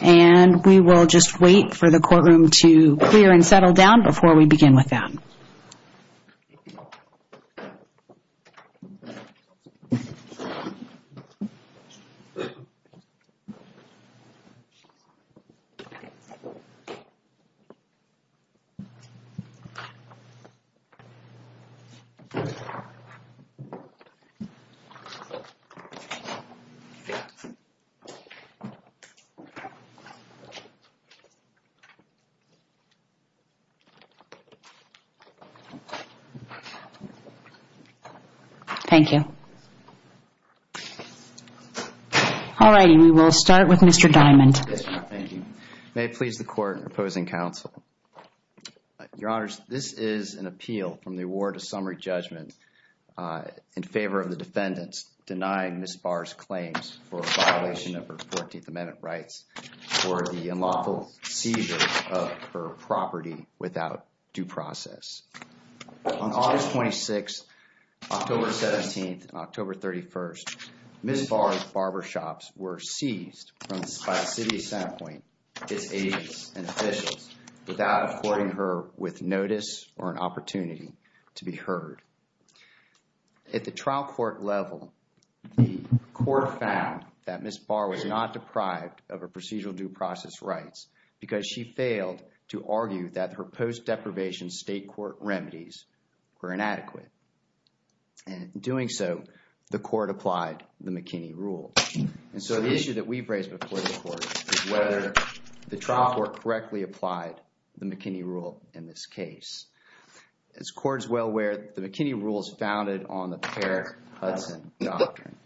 and we will just wait for the courtroom to clear and settle down before we begin with that. Thank you. Thank you. All right, we will start with Mr. Diamond. May it please the court, opposing counsel. Your honors, this is an appeal from the award of summary judgment in favor of the defendants denying Ms. Barr's claims for a violation of her 14th Amendment rights for the unlawful seizure of her property without due process. On August 26th, October 17th and October 31st, Ms. Barr's barbershops were seized by the city of Centerpointe, its agents and officials without affording her with notice or an opportunity to be heard. At the trial court level, the court found that Ms. Barr was not deprived of her procedural due process rights because she failed to argue that her post deprivation state court remedies were inadequate. And in doing so, the court applied the McKinney rule. And so the issue that we've raised before the court is whether the trial court correctly applied the McKinney rule in this case. As the court is well aware, the McKinney rule is founded on the Per Hudson Doctrine.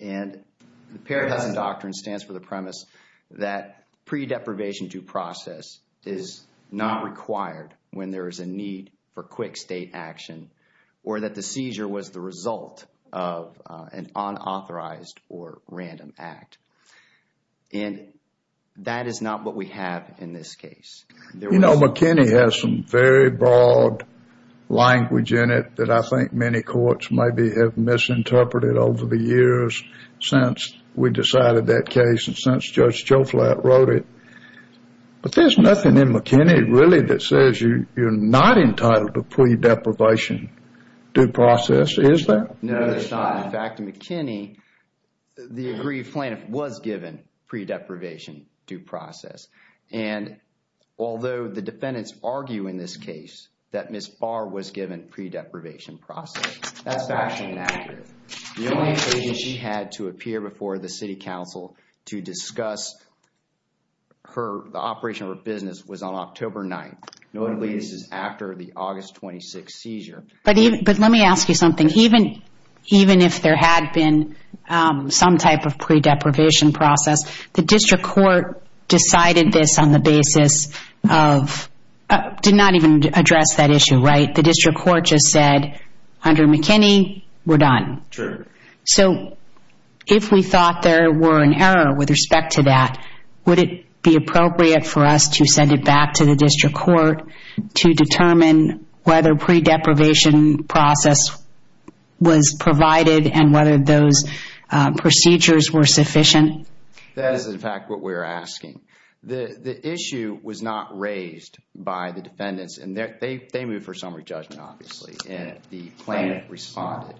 And the Per Hudson Doctrine stands for the premise that pre-deprivation due process is not required when there is a need for quick state action or that the seizure was the result of an unauthorized or random act. And that is not what we have in this case. You know, McKinney has some very broad language in it that I think many courts maybe have misinterpreted over the years since we decided that case and since Judge Joflat wrote it. But there's nothing in McKinney really that says you're not entitled to pre-deprivation due process, is there? No, there's not. In fact, in McKinney, the aggrieved plaintiff was given pre-deprivation due process. And although the defendants argue in this case that Ms. Barr was given pre-deprivation process, that's factually inaccurate. The only occasion she had to appear before the city council to discuss the operation of her business was on October 9th. Notably, this is after the August 26th seizure. But let me ask you something. Even if there had been some type of pre-deprivation process, the district court decided this on the basis of – did not even address that issue, right? The district court just said, under McKinney, we're done. True. So, if we thought there were an error with respect to that, would it be appropriate for us to send it back to the district court to determine whether pre-deprivation process was provided and whether those procedures were sufficient? That is, in fact, what we're asking. The issue was not raised by the defendants. And they moved for summary judgment, obviously. And the plaintiff responded.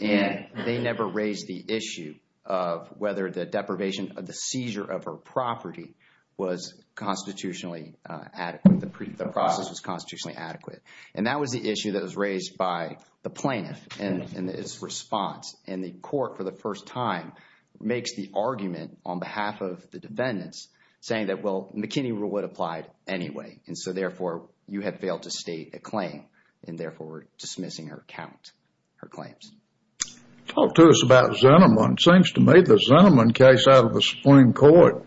And they never raised the issue of whether the deprivation of the seizure of her property was constitutionally adequate. The process was constitutionally adequate. And that was the issue that was raised by the plaintiff in its response. And the court, for the first time, makes the argument on behalf of the defendants saying that, well, McKinney rule would apply anyway. And so, therefore, you have failed to state a claim. And, therefore, we're dismissing her count, her claims. Talk to us about Zinnerman. It seems to me the Zinnerman case out of the Supreme Court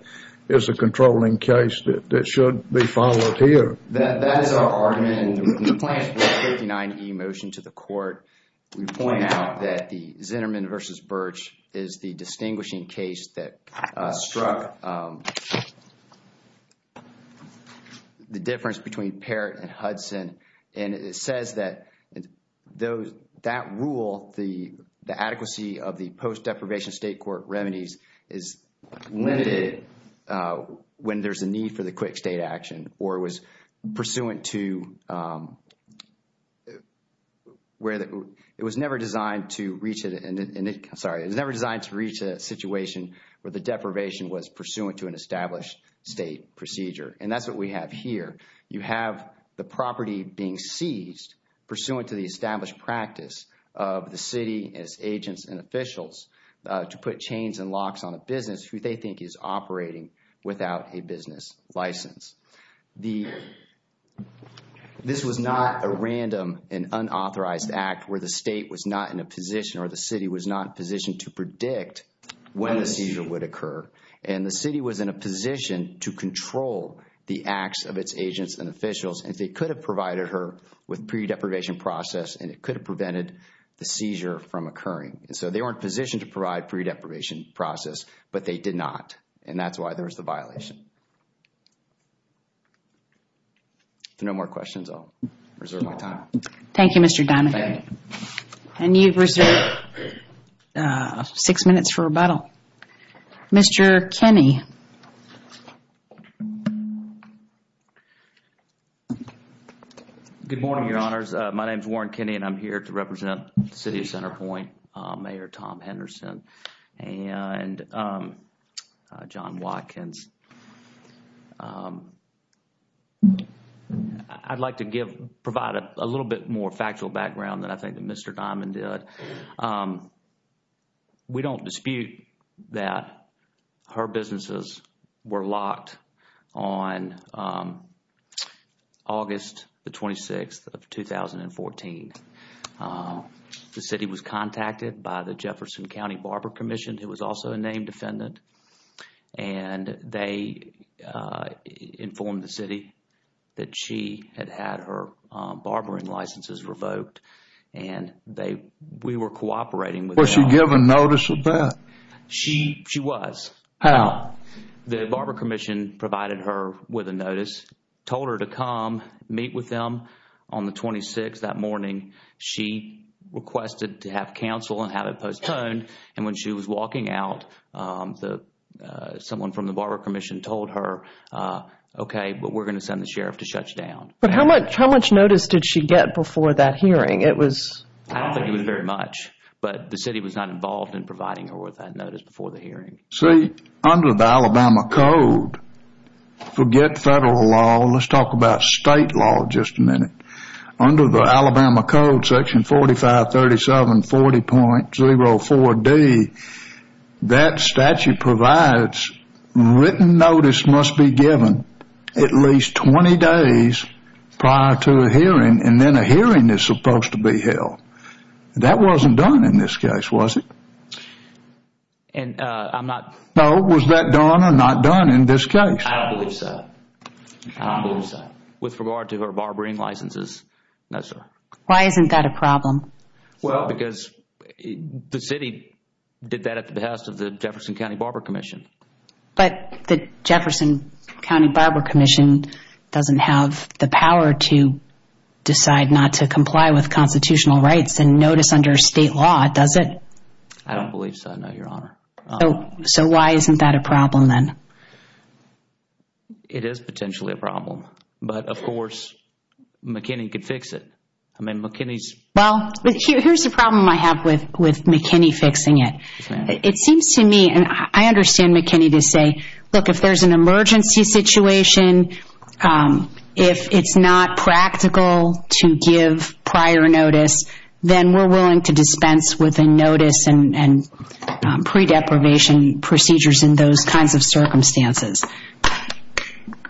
is a controlling case that should be followed here. That is our argument. Again, the plaintiff brought the 39E motion to the court. We point out that the Zinnerman v. Birch is the distinguishing case that struck the difference between Parrott and Hudson. And it says that that rule, the adequacy of the post-deprivation state court remedies, is limited when there's a need for the quick state action. Or it was pursuant to where it was never designed to reach a situation where the deprivation was pursuant to an established state procedure. And that's what we have here. You have the property being seized pursuant to the established practice of the city as agents and officials to put chains and locks on a business who they think is operating without a business license. This was not a random and unauthorized act where the state was not in a position or the city was not positioned to predict when a seizure would occur. And the city was in a position to control the acts of its agents and officials. And they could have provided her with pre-deprivation process and it could have prevented the seizure from occurring. And so they weren't positioned to provide pre-deprivation process, but they did not. And that's why there was the violation. If there are no more questions, I'll reserve my time. Thank you, Mr. Donahue. And you've reserved six minutes for rebuttal. Mr. Kinney. Good morning, Your Honors. My name is Warren Kinney and I'm here to represent the City of Centerpoint, Mayor Tom Henderson and John Watkins. I'd like to provide a little bit more factual background than I think that Mr. Diamond did. We don't dispute that her businesses were locked on August the 26th of 2014. The city was contacted by the Jefferson County Barber Commission, who was also a named defendant. And they informed the city that she had had her barbering licenses revoked. And we were cooperating with them. Was she given notice of that? She was. How? The barber commission provided her with a notice, told her to come meet with them on the 26th that morning. She requested to have counsel and have it postponed. And when she was walking out, someone from the barber commission told her, okay, but we're going to send the sheriff to shut you down. But how much notice did she get before that hearing? I don't think it was very much. But the city was not involved in providing her with that notice before the hearing. See, under the Alabama Code, forget federal law, let's talk about state law just a minute. Under the Alabama Code, section 453740.04D, that statute provides written notice must be given at least 20 days prior to a hearing. And then a hearing is supposed to be held. That wasn't done in this case, was it? And I'm not No, was that done or not done in this case? I don't believe so. I don't believe so. With regard to her barbering licenses? No, sir. Why isn't that a problem? Well, because the city did that at the behest of the Jefferson County Barber Commission. But the Jefferson County Barber Commission doesn't have the power to decide not to comply with constitutional rights and notice under state law, does it? I don't believe so, no, Your Honor. So why isn't that a problem then? It is potentially a problem. But, of course, McKinney could fix it. I mean, McKinney's Well, here's the problem I have with McKinney fixing it. It seems to me, and I understand McKinney to say, look, if there's an emergency situation, if it's not practical to give prior notice, then we're willing to dispense with a notice and pre-deprivation procedures in those kinds of circumstances.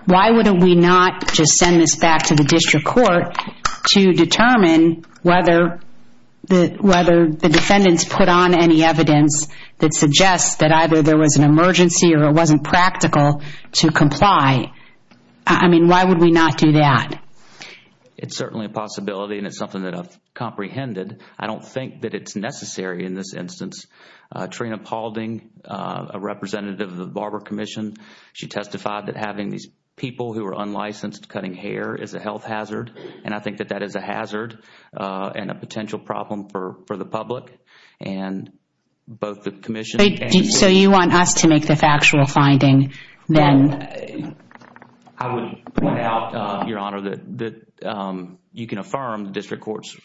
Why would we not just send this back to the district court to determine whether the defendants put on any evidence that suggests that either there was an emergency or it wasn't practical to comply? I mean, why would we not do that? It's certainly a possibility and it's something that I've comprehended. I don't think that it's necessary in this instance. Trina Paulding, a representative of the Barber Commission, she testified that having these people who are unlicensed cutting hair is a health hazard. And I think that that is a hazard and a potential problem for the public and both the commission and So you want us to make the factual finding then? I would point out, Your Honor, that you can affirm the district court's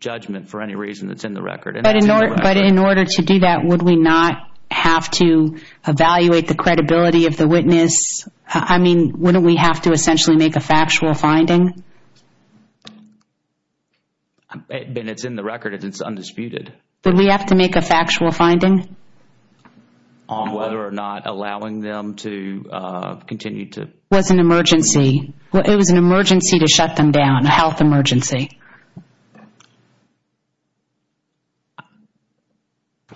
judgment for any reason that's in the record. But in order to do that, would we not have to evaluate the credibility of the witness? I mean, wouldn't we have to essentially make a factual finding? It's in the record. It's undisputed. Would we have to make a factual finding? On whether or not allowing them to continue to It was an emergency. It was an emergency to shut them down, a health emergency.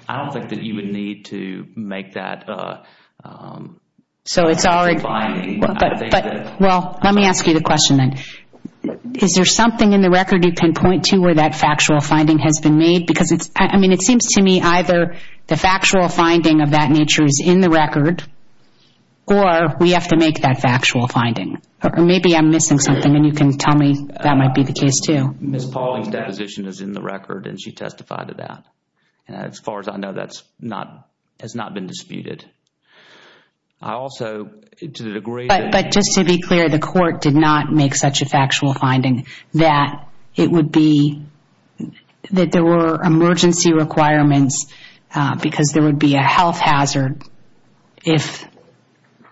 I don't think that you would need to make that finding. Well, let me ask you the question then. Is there something in the record you pinpoint to where that factual finding has been made? I mean, it seems to me either the factual finding of that nature is in the record or we have to make that factual finding. Or maybe I'm missing something and you can tell me that might be the case too. Ms. Pauling's deposition is in the record and she testified to that. As far as I know, that has not been disputed. But just to be clear, the court did not make such a factual finding that there were emergency requirements because there would be a health hazard if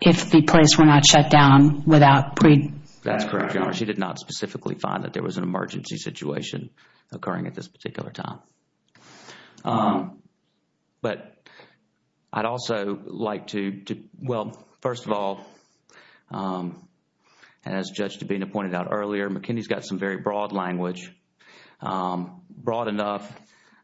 the place were not shut down without pre- That's correct, Your Honor. She did not specifically find that there was an emergency situation occurring at this particular time. But I'd also like to Well, first of all, as Judge Dabena pointed out earlier, McKinney's got some very broad language, broad enough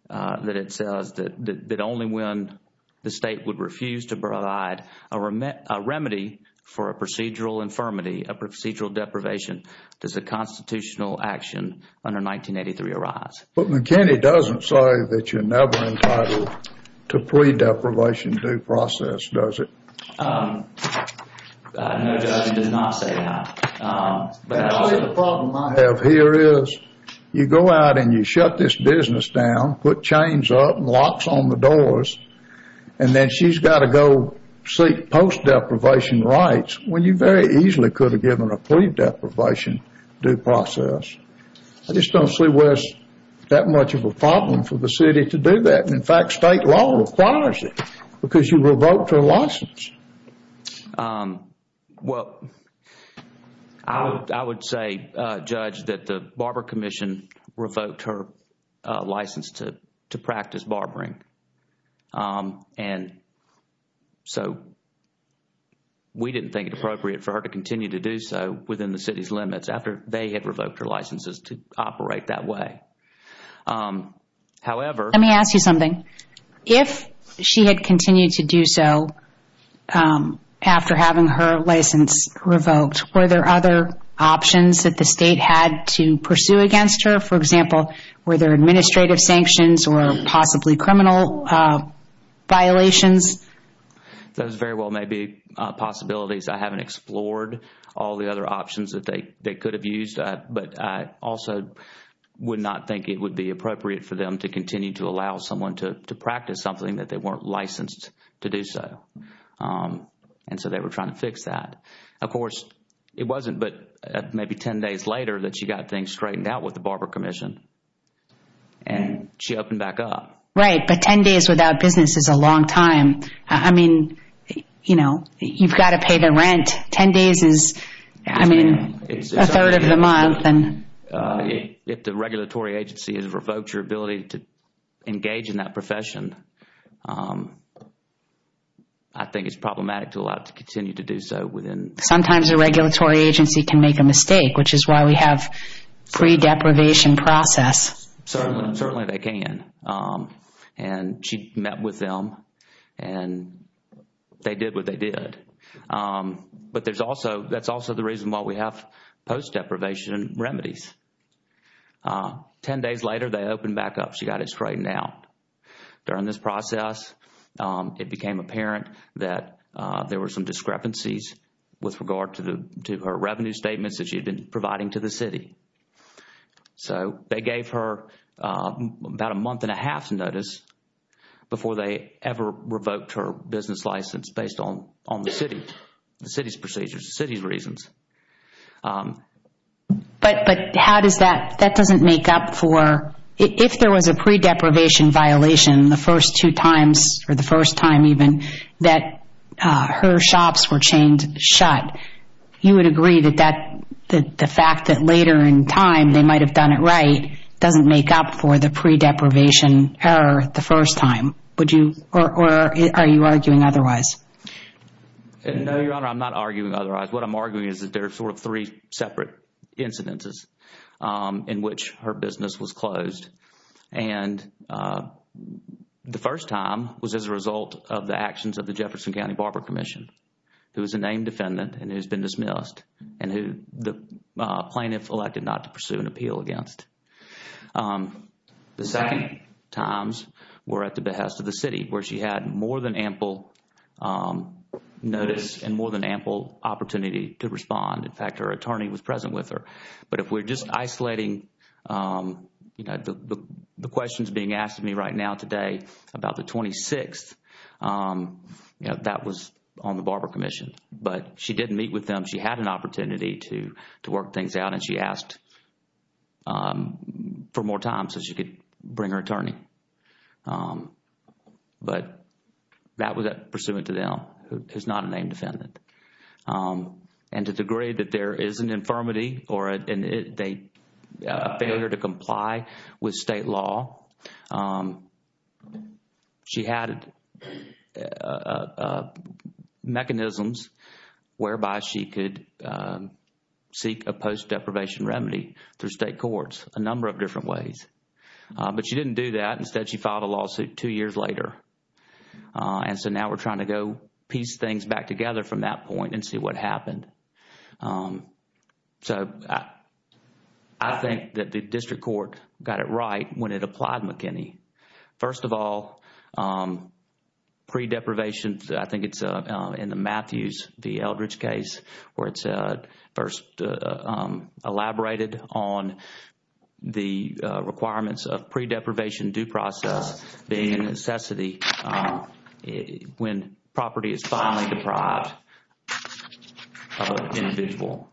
that it says that only when the state would refuse to provide a remedy for a procedural infirmity, a procedural deprivation, does a constitutional action under 1983 arise. But McKinney doesn't say that you're never entitled to plea deprivation due process, does it? No, Judge, it does not say that. The problem I have here is you go out and you shut this business down, put chains up and locks on the doors, and then she's got to go seek post-deprivation rights when you very easily could have given a plea deprivation due process. I just don't see where there's that much of a problem for the city to do that. In fact, state law requires it because you revoked her license. Well, I would say, Judge, that the Barber Commission revoked her license to practice barbering. And so we didn't think it appropriate for her to continue to do so within the city's limits after they had revoked her licenses to operate that way. However... Let me ask you something. If she had continued to do so after having her license revoked, were there other options that the state had to pursue against her? For example, were there administrative sanctions or possibly criminal violations? Those very well may be possibilities. I haven't explored all the other options that they could have used. But I also would not think it would be appropriate for them to continue to allow someone to practice something that they weren't licensed to do so. And so they were trying to fix that. Of course, it wasn't but maybe 10 days later that she got things straightened out with the Barber Commission and she opened back up. Right, but 10 days without business is a long time. I mean, you know, you've got to pay the rent. 10 days is, I mean, a third of the month. If the regulatory agency has revoked your ability to engage in that profession, I think it's problematic to allow it to continue to do so. Sometimes a regulatory agency can make a mistake which is why we have free deprivation process. Certainly they can. And she met with them and they did what they did. But there's also, that's also the reason why we have post deprivation remedies. 10 days later, they opened back up. She got it straightened out. During this process, it became apparent that there were some discrepancies with regard to her revenue statements that she had been providing to the city. So they gave her about a month and a half's notice before they ever revoked her business license based on the city, the city's procedures, the city's reasons. But how does that, that doesn't make up for, if there was a pre-deprivation violation the first two times or the first time even that her shops were chained shut, you would agree that the fact that later in time they might have done it right doesn't make up for the pre-deprivation error the first time? Would you, or are you arguing otherwise? No, Your Honor, I'm not arguing otherwise. What I'm arguing is that there are sort of three separate incidences in which her business was closed. And the first time was as a result of the actions of the Jefferson County Barber Commission, who is a named defendant and who's been dismissed, and who the plaintiff elected not to pursue an appeal against. The second times were at the behest of the city where she had more than ample notice and more than ample opportunity to respond. In fact, her attorney was present with her. But if we're just isolating, you know, the questions being asked of me right now today about the 26th, you know, that was on the Barber Commission. But she didn't meet with them. She had an opportunity to work things out and she asked for more time so she could bring her attorney. But that was pursuant to them, who is not a named defendant. And to the degree that there is an infirmity or a failure to comply with state law, she had mechanisms whereby she could seek a post-deprivation remedy through state courts a number of different ways. But she didn't do that. Instead, she filed a lawsuit two years later. And so now we're trying to go piece things back together from that point and see what happened. So I think that the district court got it right when it applied McKinney. First of all, pre-deprivation, I think it's in the Matthews v. Eldridge case where it's first elaborated on the requirements of pre-deprivation due process being a necessity when property is finally deprived of an individual.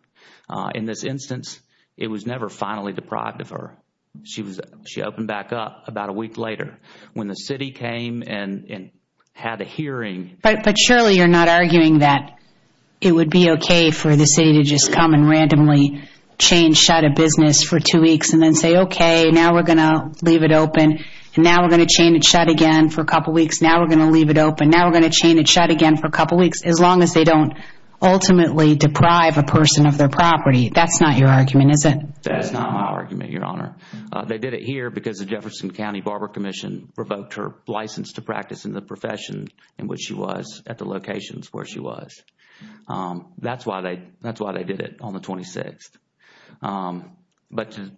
In this instance, it was never finally deprived of her. She opened back up about a week later. When the city came and had a hearing... But surely you're not arguing that it would be okay for the city to just come and randomly chain shut a business for two weeks and then say, okay, now we're going to leave it open and now we're going to chain it shut again for a couple weeks. Now we're going to leave it open. Now we're going to chain it shut again for a couple weeks as long as they don't ultimately deprive a person of their property. That's not your argument, is it? That's not my argument, Your Honor. They did it here because the Jefferson County Barber Commission revoked her license to practice in the profession in which she was at the locations where she was. That's why they did it on the 26th.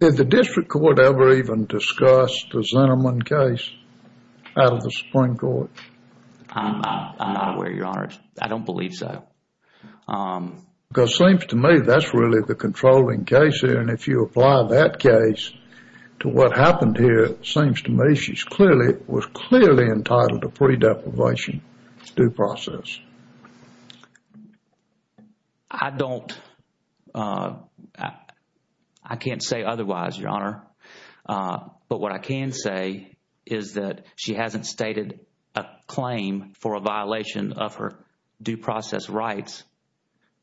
Did the district court ever even discuss the Zinnerman case out of the Supreme Court? I'm not aware, Your Honor. I don't believe so. Because it seems to me that's really the controlling case here and if you apply that case to what happened here, it seems to me she was clearly entitled to pre-deprivation due process. I can't say otherwise, Your Honor. But what I can say is that she hasn't stated a claim for a violation of her due process rights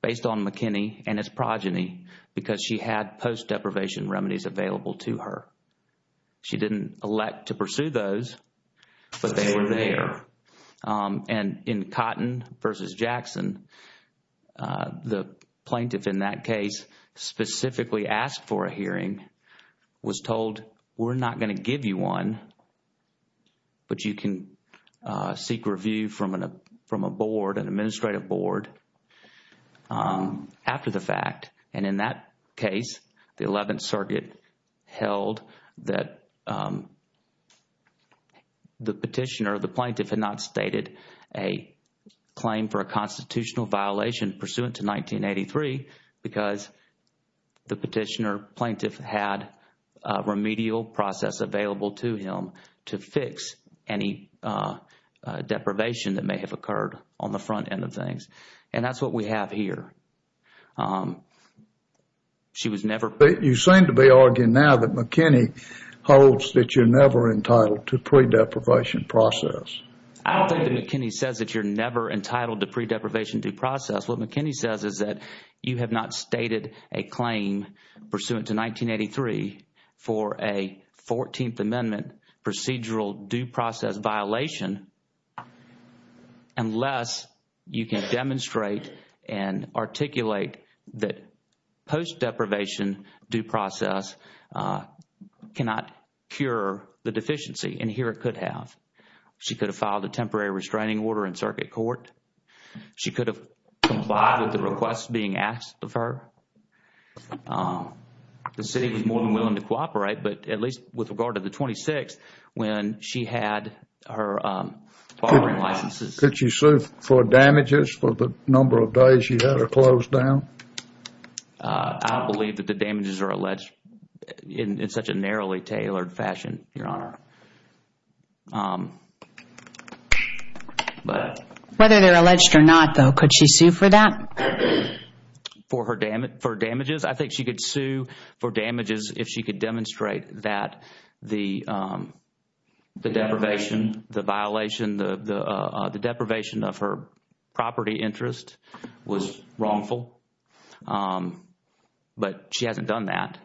based on McKinney and his progeny because she had post-deprivation remedies available to her. She didn't elect to pursue those, but they were there. And in Cotton v. Jackson, the plaintiff in that case specifically asked for a hearing, was told, we're not going to give you one, but you can seek review from a board, an administrative board, after the fact. And in that case, the 11th Circuit held that the petitioner, the plaintiff, had not stated a claim for a constitutional violation pursuant to 1983 because the petitioner plaintiff had a remedial process available to him to fix any deprivation that may have occurred on the front end of things. And that's what we have here. She was never... You seem to be arguing now that McKinney holds that you're never entitled to pre-deprivation process. I don't think that McKinney says that you're never entitled to pre-deprivation due process. What McKinney says is that you have not stated a claim pursuant to 1983 for a 14th Amendment procedural due process violation unless you can demonstrate and articulate that post-deprivation due process cannot cure the deficiency. And here it could have. She could have filed a temporary restraining order in circuit court. She could have complied with the requests being asked of her. The city was more than willing to cooperate, but at least with regard to the 26th, when she had her filing licenses... Could she sue for damages for the number of days she had her closed down? I don't believe that the damages are alleged in such a narrowly tailored fashion, Your Honor. Whether they're alleged or not, though, could she sue for that? For damages? I think she could sue for damages if she could demonstrate that the deprivation, the violation of her property interest was wrongful. But she hasn't done that.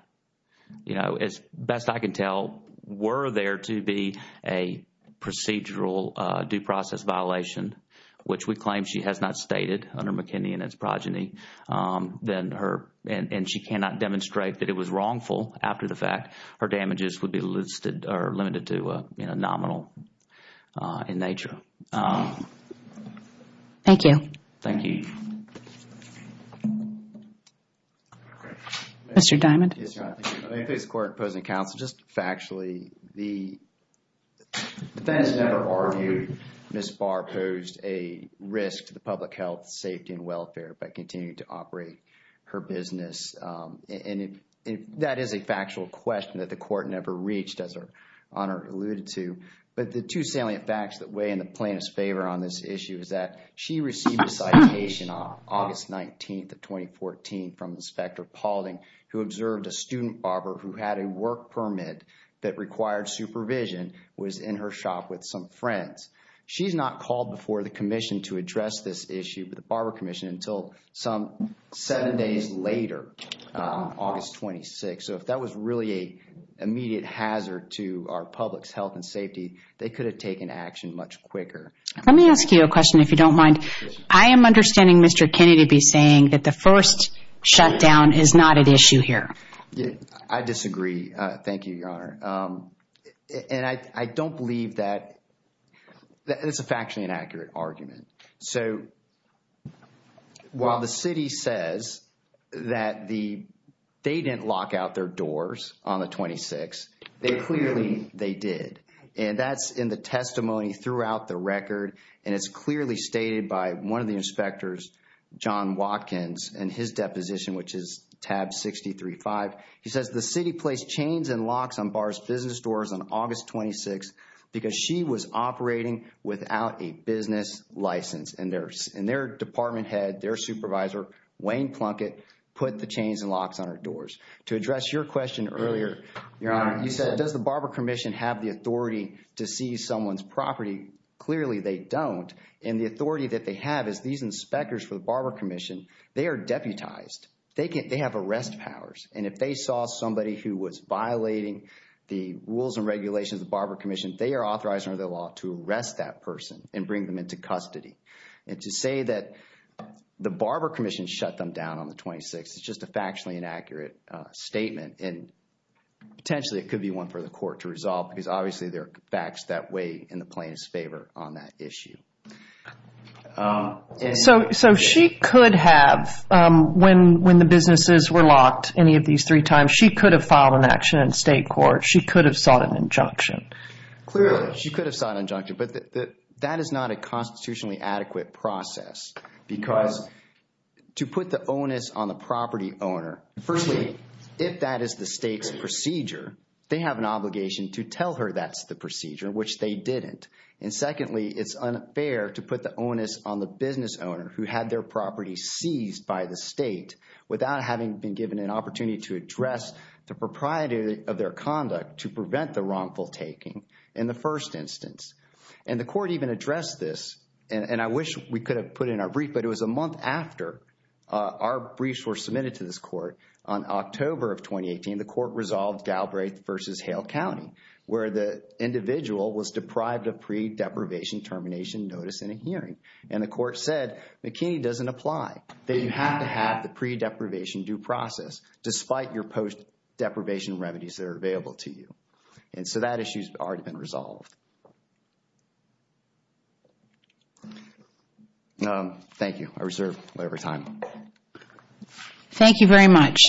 You know, as best I can tell, were there to be a procedural due process violation, which we claim she has not stated under McKinney and its progeny, then her... And she cannot demonstrate that it was wrongful after the fact. Her damages would be listed or limited to nominal in nature. Thank you. Thank you. Mr. Diamond. Yes, Your Honor. I think this is a court opposing counsel. Just factually, the defense never argued Ms. Barr posed a risk to the public health, safety, and welfare by continuing to operate her business. And that is a factual question that the court never reached, as Your Honor alluded to. But the two salient facts that weigh in the plaintiff's favor on this issue is that she received a citation on August 19th of 2014 from Inspector Paulding who observed a student barber who had a work permit that required supervision, was in her shop with some friends. She's not called before the commission to address this issue, the barber commission, until some seven days later, August 26th. So if that was really an immediate hazard to our public's health and safety, they could have taken action much quicker. Let me ask you a question, if you don't mind. I am understanding Mr. Kennedy be saying that the first shutdown is not at issue here. I disagree. Thank you, Your Honor. And I don't believe that, it's a factually inaccurate argument. So, while the city says that they didn't lock out their doors on the 26th, they clearly, they did. And that's in the testimony throughout the record and it's clearly stated by one of the inspectors, John Watkins, in his deposition, which is tab 63-5. He says, the city placed chains and locks on bar's business doors on August 26th because she was operating without a business license. And their department head, their supervisor, Wayne Plunkett, put the chains and locks on her doors. To address your question earlier, Your Honor, you said, does the barber commission have the authority to seize someone's property? Clearly, they don't. And the authority that they have is these inspectors for the barber commission, they are deputized. They have arrest powers. And if they saw somebody who was violating the rules and regulations of the barber commission, they are authorized under the law to arrest that person and bring them into custody. And to say that the barber commission shut them down on the 26th, it's just a factually inaccurate statement. And potentially, it could be one for the court to resolve because obviously, there are facts that weigh in the plaintiff's favor on that issue. So, she could have, when the businesses were locked any of these three times, she could have filed an action in state court. She could have sought an injunction. Clearly, she could have sought an injunction, but that is not a constitutionally adequate process because to put the onus on the property owner, firstly, if that is the state's procedure, they have an obligation to tell her that's the procedure, which they didn't. And secondly, it's unfair to put the onus on the business owner who had their property seized by the state without having been given an opportunity to address the propriety of their conduct to prevent the wrongful taking in the first instance. And the court even addressed this, and I wish we could have put it in our brief, but it was a month after our briefs were submitted to this court, on October of 2018, the court resolved Galbraith v. Hale County, where the individual was deprived of pre-deprivation termination notice in a hearing. And the court said, McKinney doesn't apply. That you have to have the pre-deprivation due process despite your post-deprivation remedies that are available to you. And so that issue's already been resolved. Thank you. I reserve labor time. Thank you very much.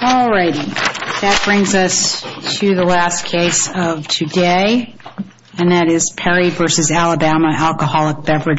All righty. That brings us to the last case of today, and that is Perry v. Alabama, an alcoholic beverage.